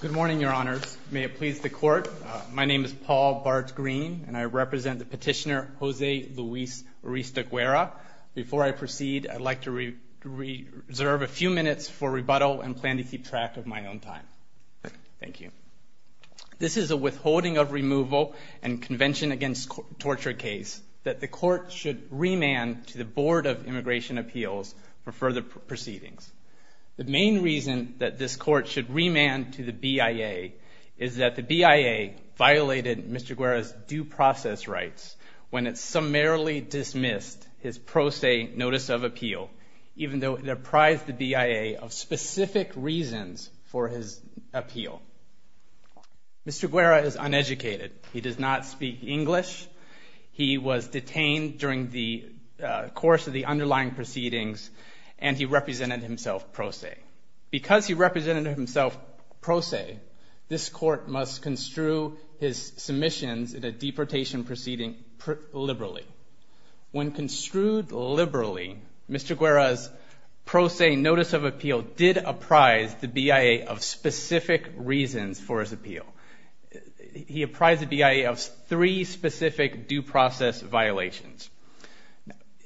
Good morning, Your Honors. May it please the Court, my name is Paul Bart Green and I represent the petitioner Jose Luis Urista Guerra. Before I proceed, I'd like to reserve a few minutes for rebuttal and plan to keep track of my own time. Thank you. This is a withholding of removal and convention against torture case that the Court should remand to the Board of Immigration Appeals for further proceedings. The main reason that this Court should remand to the BIA is that the BIA violated Mr. Guerra's due process rights when it summarily dismissed his pro se notice of appeal, even though it apprised the BIA of specific reasons for his appeal. Mr. Guerra is uneducated. He does not speak English. He was detained during the course of the underlying proceedings and he represented himself pro se. Because he represented himself pro se, this Court must construe his submissions in a deportation proceeding liberally. When construed liberally, Mr. Guerra's pro se notice of appeal did apprise the BIA of specific reasons for his appeal. He apprised the BIA of three specific due process violations.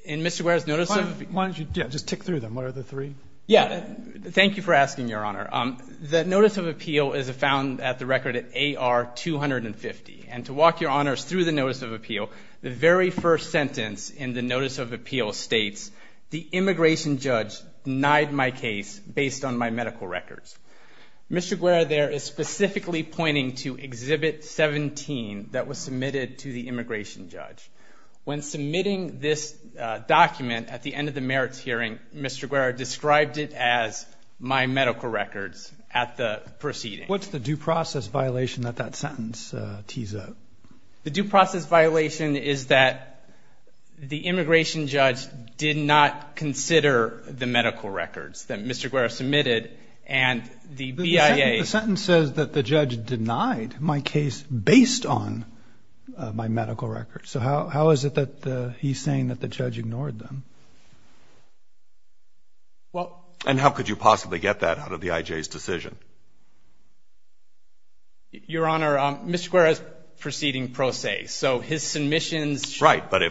In Mr. Guerra's notice of appeal... Why don't you just tick through them? What are the three? Yeah, thank you for asking, Your Honor. The notice of appeal is found at the record at AR 250. And to walk Your Honors through the notice of appeal, the very first sentence in the notice of appeal states, the immigration judge denied my case based on my medical records. Mr. Guerra there is specifically pointing to Exhibit 17 that was submitted to the immigration judge. When submitting this document at the end of the merits hearing, Mr. Guerra described it as my medical records at the proceeding. What's the due process violation that that sentence tees up? The due process violation is that the immigration judge did not consider the medical records that Mr. Guerra submitted and the BIA... The sentence says that the judge denied my case based on my medical records. So how is it that he's saying that the judge ignored them? Well... And how could you possibly get that out of the IJ's decision? Your Honor, Mr. Guerra's proceeding pro se, so his submissions... Right, but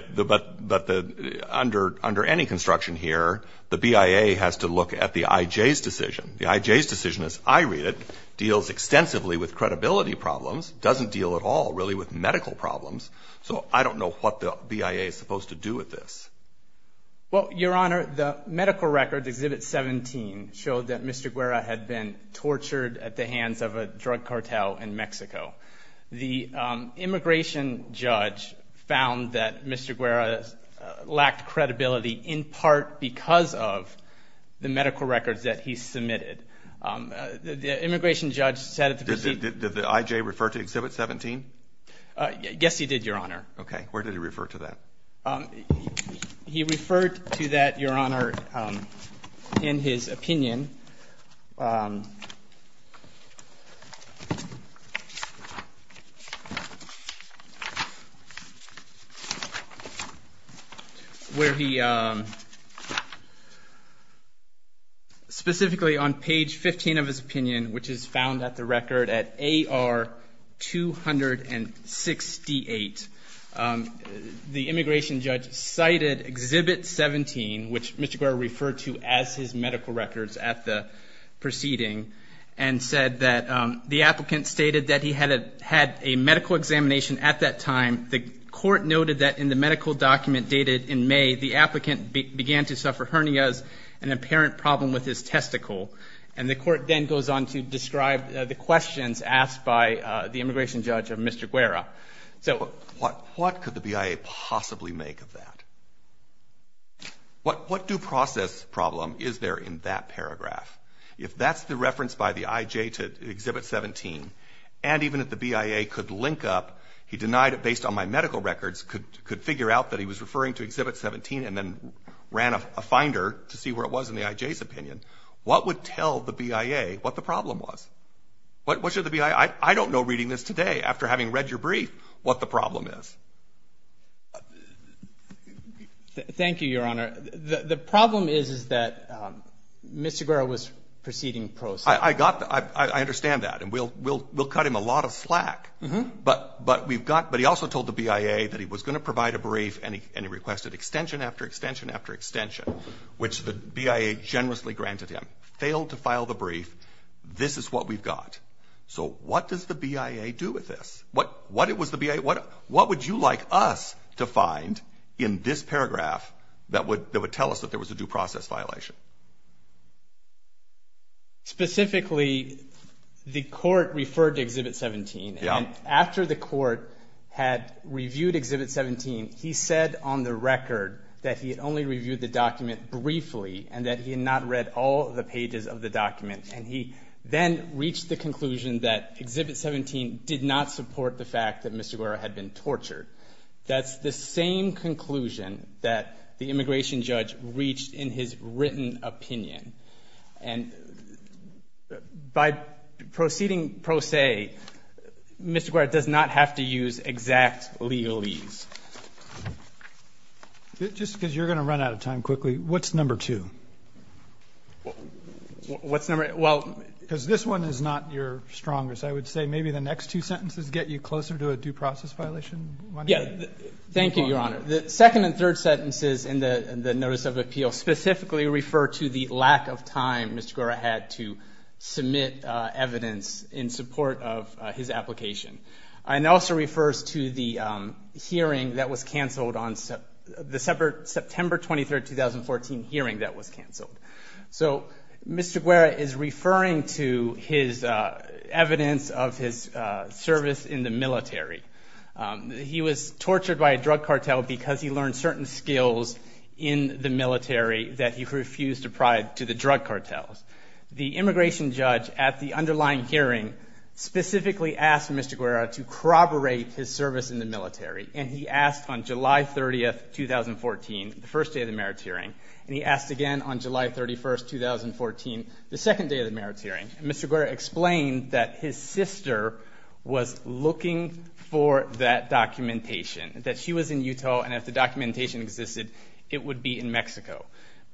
under any construction here, the BIA has to look at the IJ's decision. The IJ's decision, as I read it, deals extensively with credibility problems, doesn't deal at all really with medical problems. So I don't know what the BIA is supposed to do with this. Well, Your Honor, the medical records, Exhibit 17, showed that Mr. Guerra had been tortured at the hands of a drug cartel in Mexico. The immigration judge found that Mr. Guerra lacked credibility in part because of the medical records that he submitted. The immigration judge said... Did the IJ refer to Exhibit 17? Yes, he did, Your Honor. Okay, where did he refer to that? He referred to that, Your Honor, in his opinion... Where he... Specifically on page 15 of his opinion, which is found at the record at AR 268, the immigration judge cited Exhibit 17, which Mr. Guerra referred to as his medical records at the proceeding, and said that the applicant stated that he had a medical examination at that time. The court noted that in the medical document dated in May, the applicant began to suffer hernias, an apparent problem with his testicle. And the court then goes on to describe the questions asked by the immigration judge of Mr. Guerra. What could the BIA possibly make of that? What due process problem is there in that paragraph? If that's the reference by the IJ to Exhibit 17, and even if the BIA could link up, he denied it based on my medical records, could figure out that he was referring to Exhibit 17 and then ran a finder to see where it was in the IJ's opinion, what would tell the BIA what the problem was? What should the BIA... I don't know, reading this today, after having read your brief, what the problem is. Thank you, Your Honor. The problem is that Mr. Guerra was proceeding pro se. I understand that, and we'll cut him a lot of slack. But he also told the BIA that he was going to provide a brief, and he requested extension after extension after extension, which the BIA generously granted him. Failed to file the brief. This is what we've got. So what does the BIA do with this? What would you like us to find in this paragraph that would tell us that there was a due process violation? Specifically, the court referred to Exhibit 17, and after the court had reviewed Exhibit 17, he said on the record that he had only reviewed the document briefly and that he had not read all of the pages of the document. And he then reached the conclusion that Exhibit 17 did not support the fact that Mr. Guerra had been tortured. That's the same conclusion that the immigration judge reached in his written opinion. And by proceeding pro se, Mr. Guerra does not have to use exact legalese. Just because you're going to run out of time quickly, what's number two? What's number two? Because this one is not your strongest. I would say maybe the next two sentences get you closer to a due process violation. Thank you, Your Honor. The second and third sentences in the notice of appeal specifically refer to the lack of time Mr. Guerra had to submit evidence in support of his application. And it also refers to the hearing that was canceled on the September 23, 2014 hearing that was canceled. So Mr. Guerra is referring to his evidence of his service in the military. He was tortured by a drug cartel because he learned certain skills in the military that he refused to provide to the drug cartels. The immigration judge at the underlying hearing specifically asked Mr. Guerra to corroborate his service in the military. And he asked on July 30, 2014, the first day of the merits hearing. And he asked again on July 31, 2014, the second day of the merits hearing. And Mr. Guerra explained that his sister was looking for that documentation, that she was in Utah and if the documentation existed, it would be in Mexico.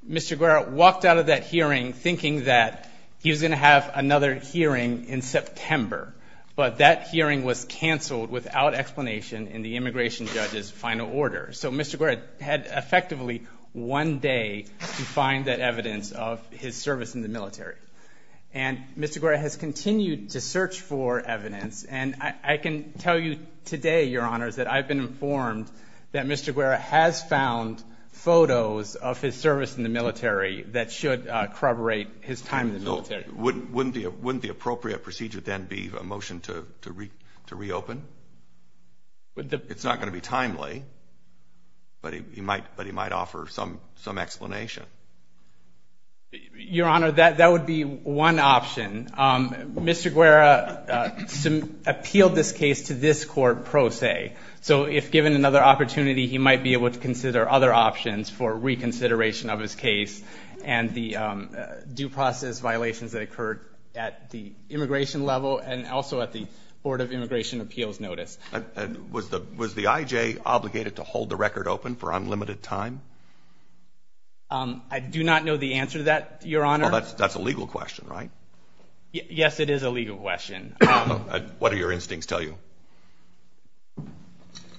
Mr. Guerra walked out of that hearing thinking that he was going to have another hearing in September. But that hearing was canceled without explanation in the immigration judge's final order. So Mr. Guerra had effectively one day to find that evidence of his service in the military. And Mr. Guerra has continued to search for evidence, and I can tell you today, Your Honors, that I've been informed that Mr. Guerra has found photos of his service in the military that should corroborate his time in the military. Wouldn't the appropriate procedure then be a motion to reopen? It's not going to be timely, but he might offer some explanation. Your Honor, that would be one option. Mr. Guerra appealed this case to this court pro se. So if given another opportunity, he might be able to consider other options for reconsideration of his case and the due process violations that occurred at the immigration level and also at the Board of Immigration Appeals notice. And was the IJ obligated to hold the record open for unlimited time? I do not know the answer to that, Your Honor. Well, that's a legal question, right? Yes, it is a legal question. What do your instincts tell you?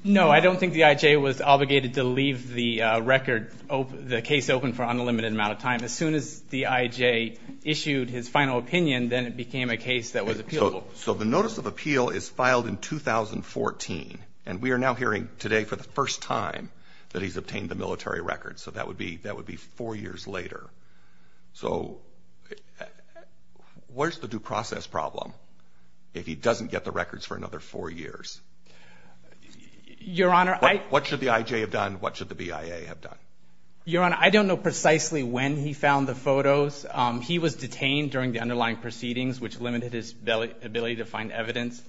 No, I don't think the IJ was obligated to leave the case open for an unlimited amount of time. As soon as the IJ issued his final opinion, then it became a case that was appealable. So the notice of appeal is filed in 2014, and we are now hearing today for the first time that he's obtained the military record. So that would be four years later. So where's the due process problem if he doesn't get the records for another four years? Your Honor, I— What should the IJ have done? What should the BIA have done? Your Honor, I don't know precisely when he found the photos. He was detained during the underlying proceedings, which limited his ability to find evidence.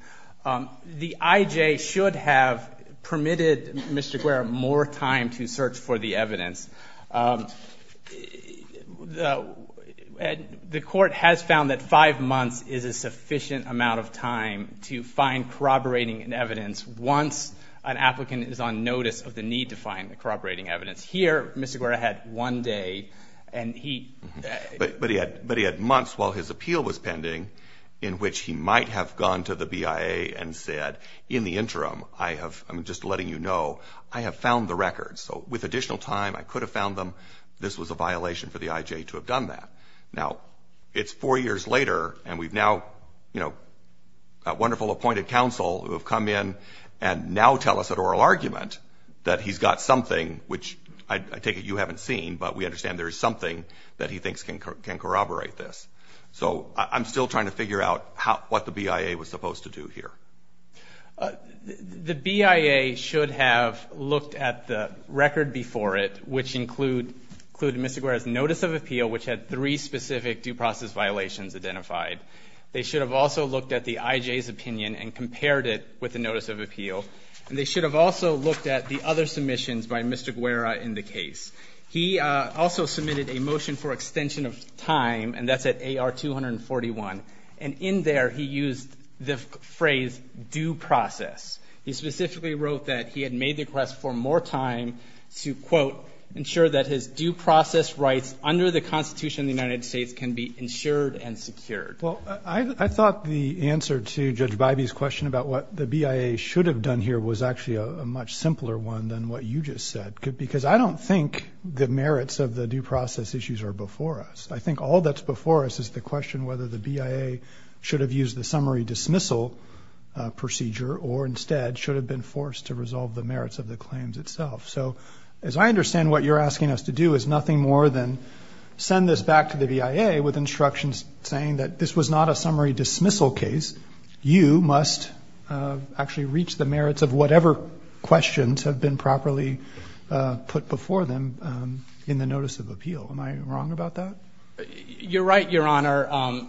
The IJ should have permitted Mr. Guerra more time to search for the evidence. The court has found that five months is a sufficient amount of time to find corroborating evidence once an applicant is on notice of the need to find the corroborating evidence. Here, Mr. Guerra had one day, and he— in the interim, I have—I'm just letting you know, I have found the records. So with additional time, I could have found them. This was a violation for the IJ to have done that. Now, it's four years later, and we've now, you know, a wonderful appointed counsel who have come in and now tell us at oral argument that he's got something which I take it you haven't seen, but we understand there is something that he thinks can corroborate this. So I'm still trying to figure out what the BIA was supposed to do here. The BIA should have looked at the record before it, which included Mr. Guerra's notice of appeal, which had three specific due process violations identified. They should have also looked at the IJ's opinion and compared it with the notice of appeal, and they should have also looked at the other submissions by Mr. Guerra in the case. He also submitted a motion for extension of time, and that's at AR 241. And in there, he used the phrase due process. He specifically wrote that he had made the request for more time to, quote, ensure that his due process rights under the Constitution of the United States can be ensured and secured. Well, I thought the answer to Judge Bybee's question about what the BIA should have done here was actually a much simpler one than what you just said, because I don't think the merits of the due process issues are before us. I think all that's before us is the question whether the BIA should have used the summary dismissal procedure or instead should have been forced to resolve the merits of the claims itself. So as I understand what you're asking us to do is nothing more than send this back to the BIA with instructions saying that this was not a summary dismissal case. You must actually reach the merits of whatever questions have been properly put before them in the notice of appeal. Am I wrong about that? You're right, Your Honor.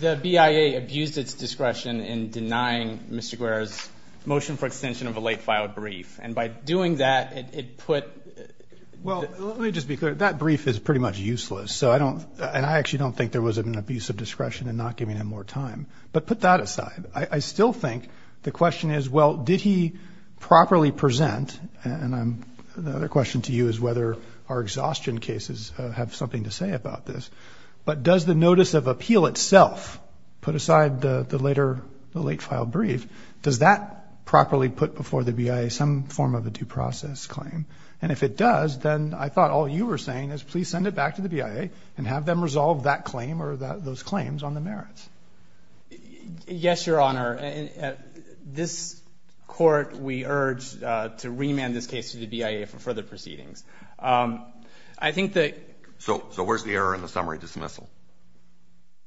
The BIA abused its discretion in denying Mr. Guerra's motion for extension of a late-filed brief. And by doing that, it put the ---- Well, let me just be clear. That brief is pretty much useless. So I don't ---- and I actually don't think there was an abuse of discretion in not giving him more time. But put that aside. I still think the question is, well, did he properly present? And the other question to you is whether our exhaustion cases have something to say about this. But does the notice of appeal itself, put aside the later, the late-filed brief, does that properly put before the BIA some form of a due process claim? And if it does, then I thought all you were saying is please send it back to the BIA and have them resolve that claim or those claims on the merits. Yes, Your Honor. This Court, we urge to remand this case to the BIA for further proceedings. I think that ---- So where's the error in the summary dismissal?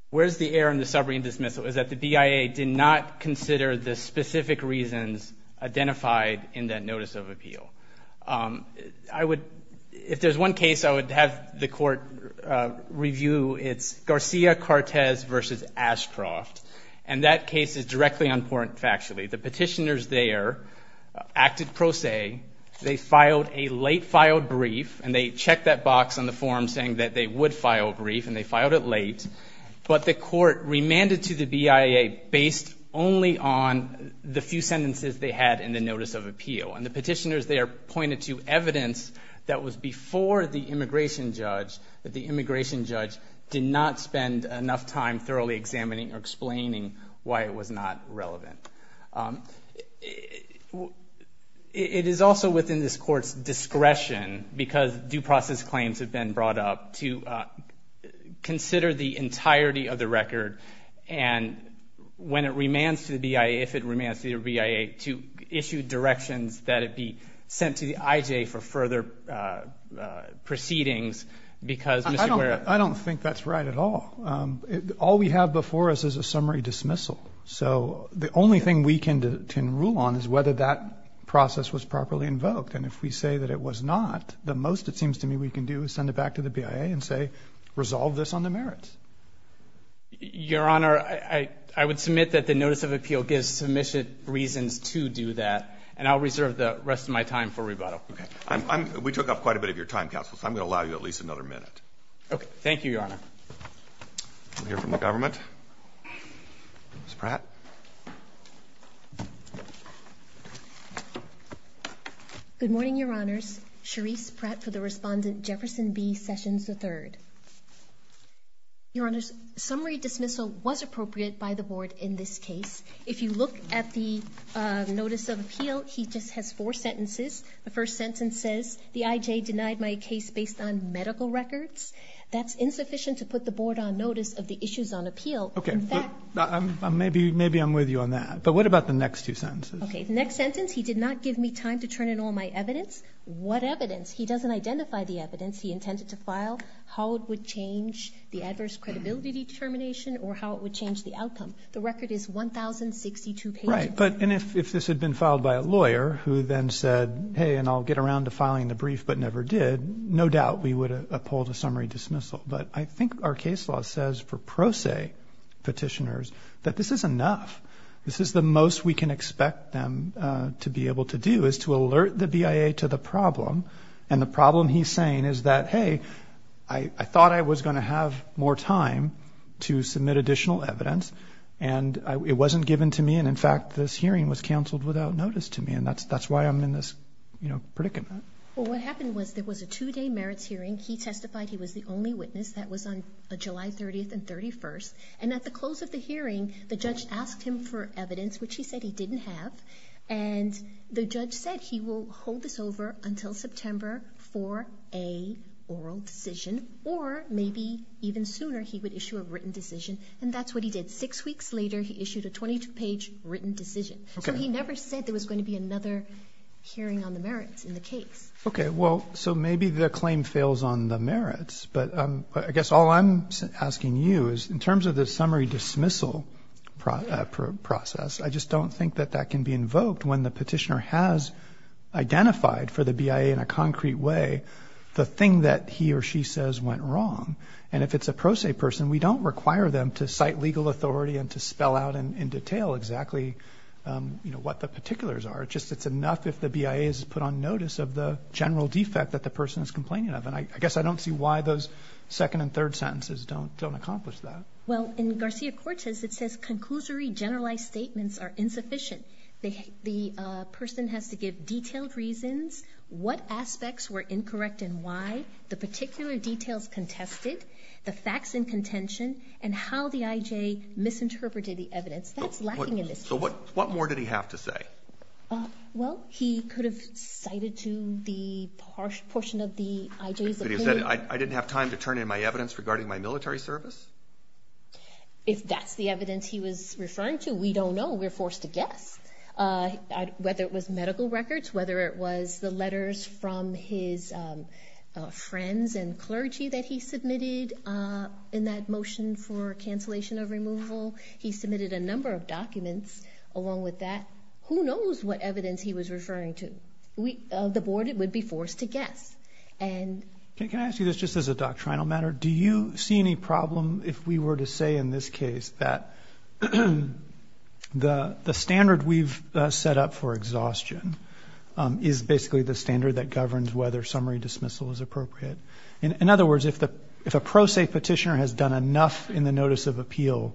Where's the error in the summary dismissal is that the BIA did not consider the specific reasons identified in that notice of appeal. I would ---- if there's one case I would have the Court review, it's Garcia-Cortez v. Ashcroft. And that case is directly on point factually. The petitioners there acted pro se. They filed a late-filed brief, and they checked that box on the form saying that they would file a brief, and they filed it late. But the Court remanded to the BIA based only on the few sentences they had in the notice of appeal. And the petitioners there pointed to evidence that was before the immigration judge, that the immigration judge did not spend enough time thoroughly examining or explaining why it was not relevant. It is also within this Court's discretion, because due process claims have been brought up, to consider the entirety of the record. And when it remands to the BIA, if it remands to the BIA, to issue directions that it be sent to the IJ for further proceedings because Mr. Guerra ---- I don't think that's right at all. All we have before us is a summary dismissal. So the only thing we can rule on is whether that process was properly invoked. And if we say that it was not, the most it seems to me we can do is send it back to the BIA and say, resolve this on the merits. Your Honor, I would submit that the notice of appeal gives sufficient reasons to do that, and I'll reserve the rest of my time for rebuttal. Okay. We took up quite a bit of your time, counsel, so I'm going to allow you at least another minute. Okay. Thank you, Your Honor. We'll hear from the government. Ms. Pratt. Good morning, Your Honors. Cherise Pratt for the respondent, Jefferson B. Sessions III. Your Honors, summary dismissal was appropriate by the Board in this case. If you look at the notice of appeal, he just has four sentences. The first sentence says, the IJ denied my case based on medical records. That's insufficient to put the Board on notice of the issues on appeal. Okay. In fact ---- Maybe I'm with you on that. But what about the next two sentences? Okay. The next sentence, he did not give me time to turn in all my evidence. What evidence? He doesn't identify the evidence he intended to file, how it would change the adverse credibility determination or how it would change the outcome. The record is 1,062 pages. Right. And if this had been filed by a lawyer who then said, hey, and I'll get around to filing the brief but never did, no doubt we would have upheld a summary dismissal. But I think our case law says for pro se petitioners that this is enough. This is the most we can expect them to be able to do is to alert the BIA to the problem. And the problem he's saying is that, hey, I thought I was going to have more time to submit additional evidence. And it wasn't given to me. And, in fact, this hearing was canceled without notice to me. And that's why I'm in this predicament. Well, what happened was there was a two-day merits hearing. He testified he was the only witness. That was on July 30th and 31st. And at the close of the hearing, the judge asked him for evidence, which he said he didn't have. And the judge said he will hold this over until September for a oral decision, or maybe even sooner he would issue a written decision. And that's what he did. Six weeks later, he issued a 22-page written decision. So he never said there was going to be another hearing on the merits in the case. Okay, well, so maybe the claim fails on the merits. But I guess all I'm asking you is, in terms of the summary dismissal process, I just don't think that that can be invoked when the petitioner has identified for the BIA in a concrete way the thing that he or she says went wrong. And if it's a pro se person, we don't require them to cite legal authority and to spell out in detail exactly, you know, what the particulars are. But just it's enough if the BIA has put on notice of the general defect that the person is complaining of. And I guess I don't see why those second and third sentences don't accomplish that. Well, in Garcia-Cortez, it says, Conclusory generalized statements are insufficient. The person has to give detailed reasons, what aspects were incorrect and why, the particular details contested, the facts in contention, and how the I.J. misinterpreted the evidence. That's lacking in this case. So what more did he have to say? Well, he could have cited to the harsh portion of the I.J.'s opinion. I didn't have time to turn in my evidence regarding my military service? If that's the evidence he was referring to, we don't know. We're forced to guess. Whether it was medical records, whether it was the letters from his friends and clergy that he submitted, in that motion for cancellation of removal, he submitted a number of documents along with that. Who knows what evidence he was referring to? The Board would be forced to guess. Can I ask you this just as a doctrinal matter? Do you see any problem if we were to say in this case that the standard we've set up for exhaustion is basically the standard that governs whether summary dismissal is appropriate? In other words, if a pro se petitioner has done enough in the notice of appeal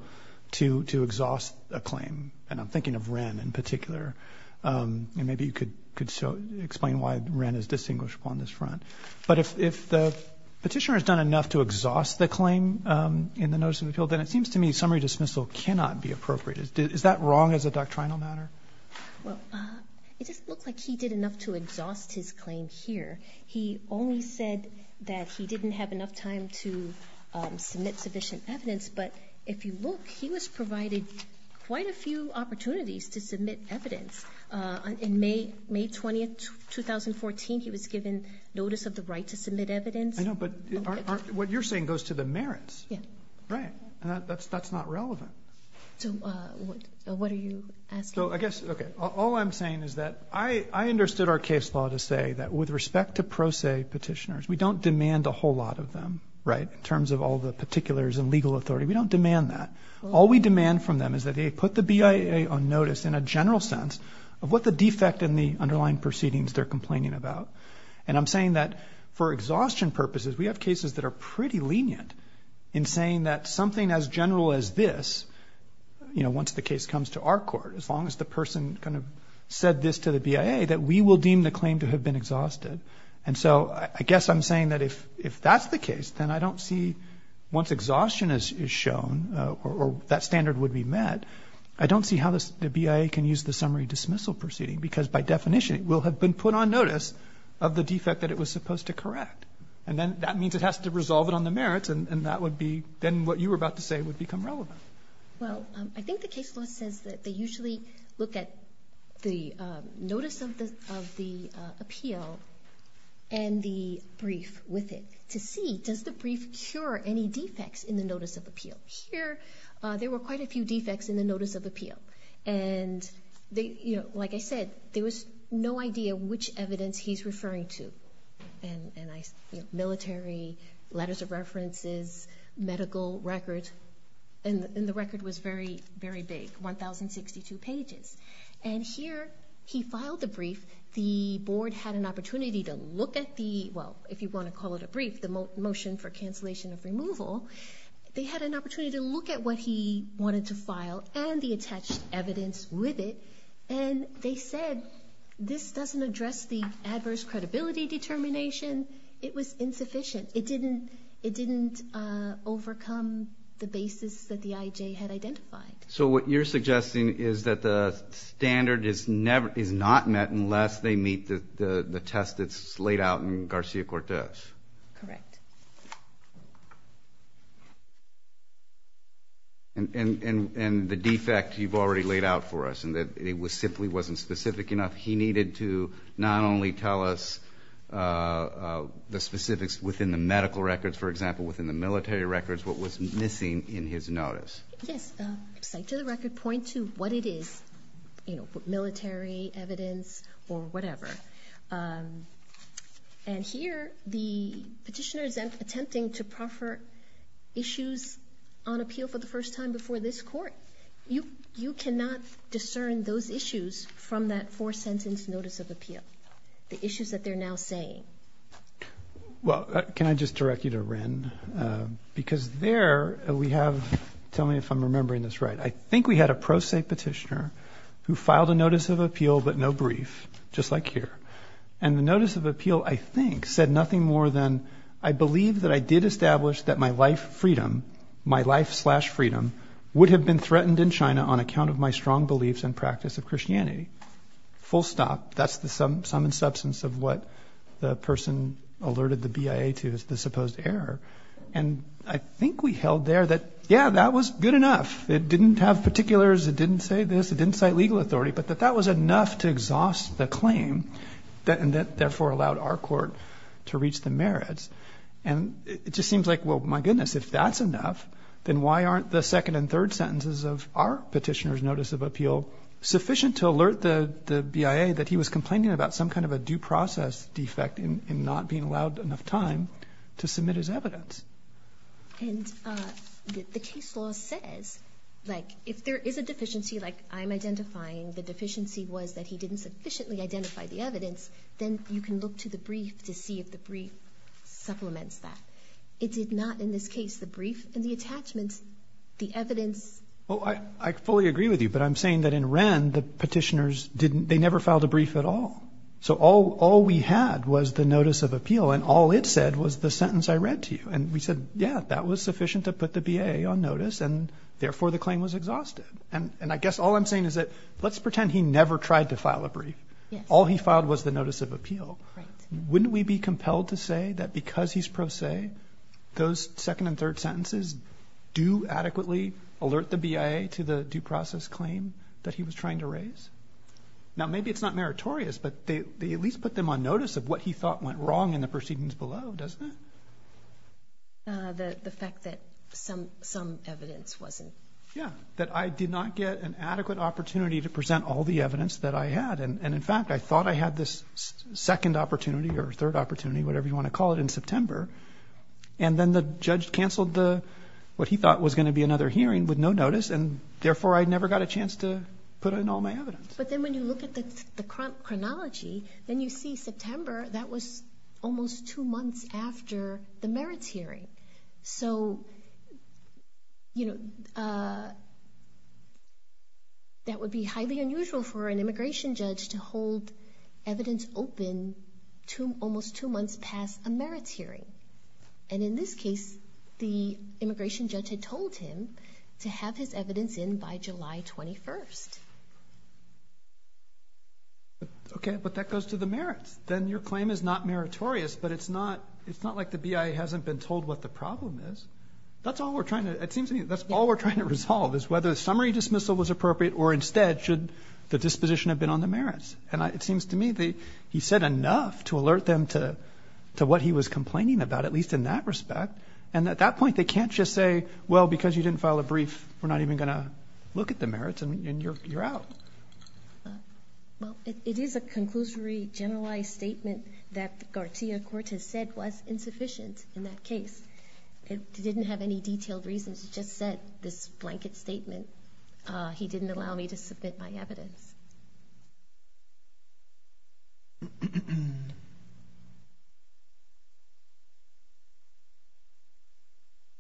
to exhaust a claim, and I'm thinking of Wren in particular, and maybe you could explain why Wren is distinguished upon this front. But if the petitioner has done enough to exhaust the claim in the notice of appeal, then it seems to me summary dismissal cannot be appropriate. Is that wrong as a doctrinal matter? Well, it just looks like he did enough to exhaust his claim here. He only said that he didn't have enough time to submit sufficient evidence, but if you look, he was provided quite a few opportunities to submit evidence. On May 20, 2014, he was given notice of the right to submit evidence. I know, but what you're saying goes to the merits. Yeah. Right. And that's not relevant. So what are you asking? So I guess, okay, all I'm saying is that I understood our case law to say that with respect to pro se petitioners, we don't demand a whole lot of them, right, in terms of all the particulars and legal authority. We don't demand that. All we demand from them is that they put the BIA on notice in a general sense of what the defect in the underlying proceedings they're complaining about. And I'm saying that for exhaustion purposes, we have cases that are pretty lenient in saying that something as general as this, you know, once the case comes to our court, as long as the person kind of said this to the BIA, that we will deem the claim to have been exhausted. And so I guess I'm saying that if that's the case, then I don't see once exhaustion is shown or that standard would be met, I don't see how the BIA can use the summary dismissal proceeding, because by definition it will have been put on notice of the defect that it was supposed to correct. And then that means it has to resolve it on the merits, and that would be then what you were about to say would become relevant. Well, I think the case law says that they usually look at the notice of the appeal and the brief with it to see does the brief cure any defects in the notice of appeal. Here there were quite a few defects in the notice of appeal. And, you know, like I said, there was no idea which evidence he's referring to, military, letters of references, medical records. And the record was very, very big, 1,062 pages. And here he filed the brief. The board had an opportunity to look at the, well, if you want to call it a brief, the motion for cancellation of removal. They had an opportunity to look at what he wanted to file and the attached evidence with it. And they said this doesn't address the adverse credibility determination. It was insufficient. It didn't overcome the basis that the IJ had identified. So what you're suggesting is that the standard is not met unless they meet the test that's laid out in Garcia-Cortez. Correct. And the defect you've already laid out for us, and that it simply wasn't specific enough, he needed to not only tell us the specifics within the medical records, for example, within the military records, what was missing in his notice. Yes. To the record, point to what it is, you know, military evidence or whatever. And here the petitioner is attempting to proffer issues on appeal for the first time before this court. You cannot discern those issues from that four-sentence notice of appeal, the issues that they're now saying. Well, can I just direct you to Wren? Because there we have, tell me if I'm remembering this right, I think we had a pro se petitioner who filed a notice of appeal but no brief, just like here. And the notice of appeal, I think, said nothing more than, I believe that I did establish that my life freedom, my life slash freedom, would have been threatened in China on account of my strong beliefs and practice of Christianity. Full stop. That's the sum and substance of what the person alerted the BIA to as the supposed error. And I think we held there that, yeah, that was good enough. It didn't have particulars. It didn't say this. It didn't cite legal authority. But that that was enough to exhaust the claim and that, therefore, allowed our court to reach the merits. And it just seems like, well, my goodness, if that's enough, then why aren't the second and third sentences of our petitioner's notice of appeal sufficient to alert the BIA that he was complaining about some kind of a due process defect in not being allowed enough time to submit his evidence? And the case law says, like, if there is a deficiency, like I'm identifying, the deficiency was that he didn't sufficiently identify the evidence, then you can look to the brief to see if the brief supplements that. It did not in this case, the brief and the attachments, the evidence. Well, I fully agree with you, but I'm saying that in Wren, the petitioners didn't, they never filed a brief at all. So all we had was the notice of appeal, and all it said was the sentence I read to you. And we said, yeah, that was sufficient to put the BIA on notice, and therefore the claim was exhausted. And I guess all I'm saying is that let's pretend he never tried to file a brief. All he filed was the notice of appeal. Wouldn't we be compelled to say that because he's pro se, those second and third sentences do adequately alert the BIA to the due process claim that he was trying to raise? Now, maybe it's not meritorious, but they at least put them on notice of what he thought went wrong in the proceedings below, doesn't it? The fact that some evidence wasn't. Yeah, that I did not get an adequate opportunity to present all the evidence that I had. And, in fact, I thought I had this second opportunity or third opportunity, whatever you want to call it, in September. And then the judge canceled what he thought was going to be another hearing with no notice, and therefore I never got a chance to put in all my evidence. But then when you look at the chronology, then you see September, that was almost two months after the merits hearing. So, you know, that would be highly unusual for an immigration judge to hold evidence open almost two months past a merits hearing. And in this case, the immigration judge had told him to have his evidence in by July 21st. Okay, but that goes to the merits. Then your claim is not meritorious, but it's not like the BIA hasn't been told what the problem is. That's all we're trying to resolve is whether a summary dismissal was appropriate or instead should the disposition have been on the merits. And it seems to me that he said enough to alert them to what he was complaining about, at least in that respect. And at that point, they can't just say, well, because you didn't file a brief, we're not even going to look at the merits, and you're out. Well, it is a conclusory, generalized statement that Garcia-Cortez said was insufficient in that case. It didn't have any detailed reasons. He just said this blanket statement. He didn't allow me to submit my evidence.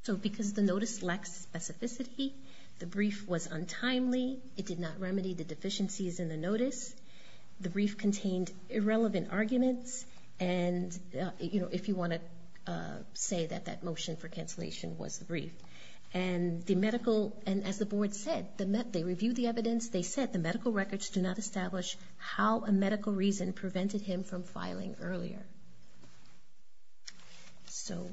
So because the notice lacks specificity, the brief was untimely. It did not remedy the deficiencies in the notice. So if you want to say that that motion for cancellation was the brief. And as the Board said, they reviewed the evidence. They said the medical records do not establish how a medical reason prevented him from filing earlier. So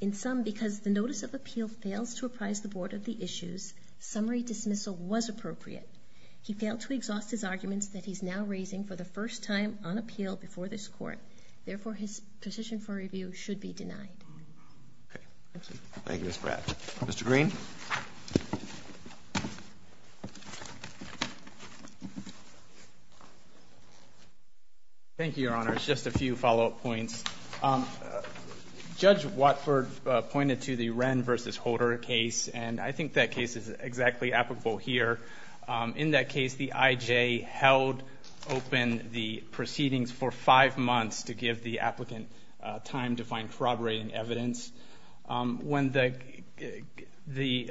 in sum, because the notice of appeal fails to apprise the Board of the issues, summary dismissal was appropriate. He failed to exhaust his arguments that he's now raising for the first time on appeal before this Court. Therefore, his position for review should be denied. Thank you, Ms. Bradt. Mr. Green? Thank you, Your Honors. Just a few follow-up points. Judge Watford pointed to the Wren v. Holder case, and I think that case is exactly applicable here. In that case, the IJ held open the proceedings for five months to give the applicant time to find corroborating evidence. When the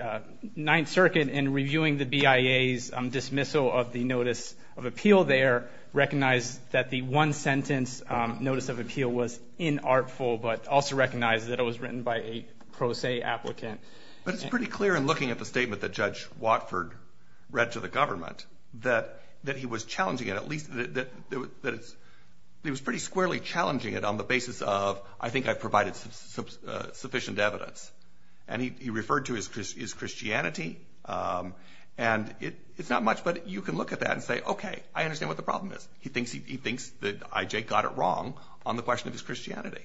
Ninth Circuit, in reviewing the BIA's dismissal of the notice of appeal there, recognized that the one-sentence notice of appeal was inartful, but also recognized that it was written by a pro se applicant. But it's pretty clear in looking at the statement that Judge Watford read to the government that he was challenging it, at least that it was pretty squarely challenging it on the basis of, I think I've provided sufficient evidence. And he referred to his Christianity. And it's not much, but you can look at that and say, okay, I understand what the problem is. He thinks that IJ got it wrong on the question of his Christianity.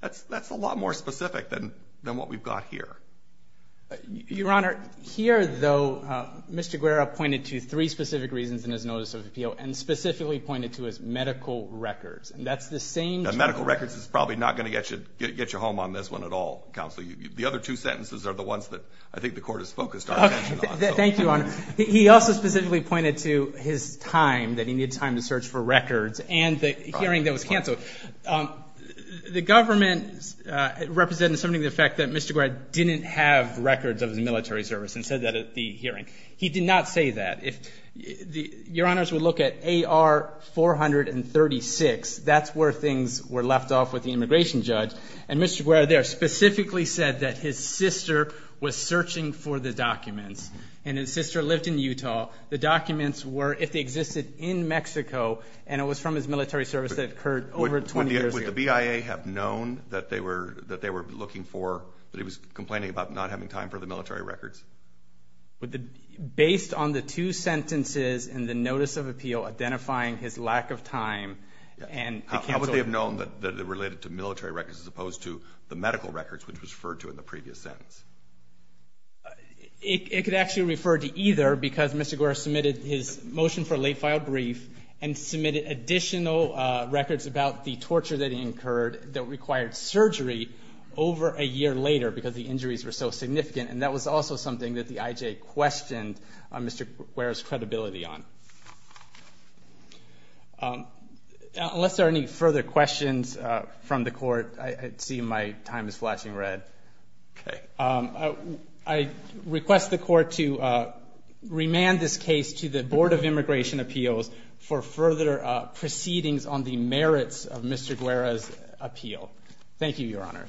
That's a lot more specific than what we've got here. Your Honor, here, though, Mr. Guerra pointed to three specific reasons in his notice of appeal and specifically pointed to his medical records, and that's the same. Medical records is probably not going to get you home on this one at all, Counsel. The other two sentences are the ones that I think the Court has focused our attention on. Thank you, Your Honor. He also specifically pointed to his time, that he needed time to search for records, and the hearing that was canceled. The government represented something to the effect that Mr. Guerra didn't have records of his military service and said that at the hearing. He did not say that. Your Honors would look at AR 436. That's where things were left off with the immigration judge. And Mr. Guerra there specifically said that his sister was searching for the documents. And his sister lived in Utah. The documents were, if they existed in Mexico, and it was from his military service that occurred over 20 years ago. Would the BIA have known that they were looking for, that he was complaining about not having time for the military records? Based on the two sentences in the notice of appeal identifying his lack of time and the canceled. How would they have known that it related to military records as opposed to the medical records, which was referred to in the previous sentence? It could actually refer to either because Mr. Guerra submitted his motion for late-filed brief and submitted additional records about the torture that he incurred that required surgery over a year later because the injuries were so significant. And that was also something that the IJ questioned Mr. Guerra's credibility on. Unless there are any further questions from the court, I see my time is flashing red. Okay. I request the court to remand this case to the Board of Immigration Appeals for further proceedings on the merits of Mr. Guerra's appeal. Thank you, Your Honor.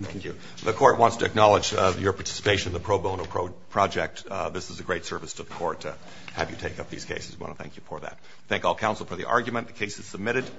Thank you. The court wants to acknowledge your participation in the pro bono project. This is a great service to the court to have you take up these cases. We want to thank you for that. Thank all counsel for the argument. The case is submitted.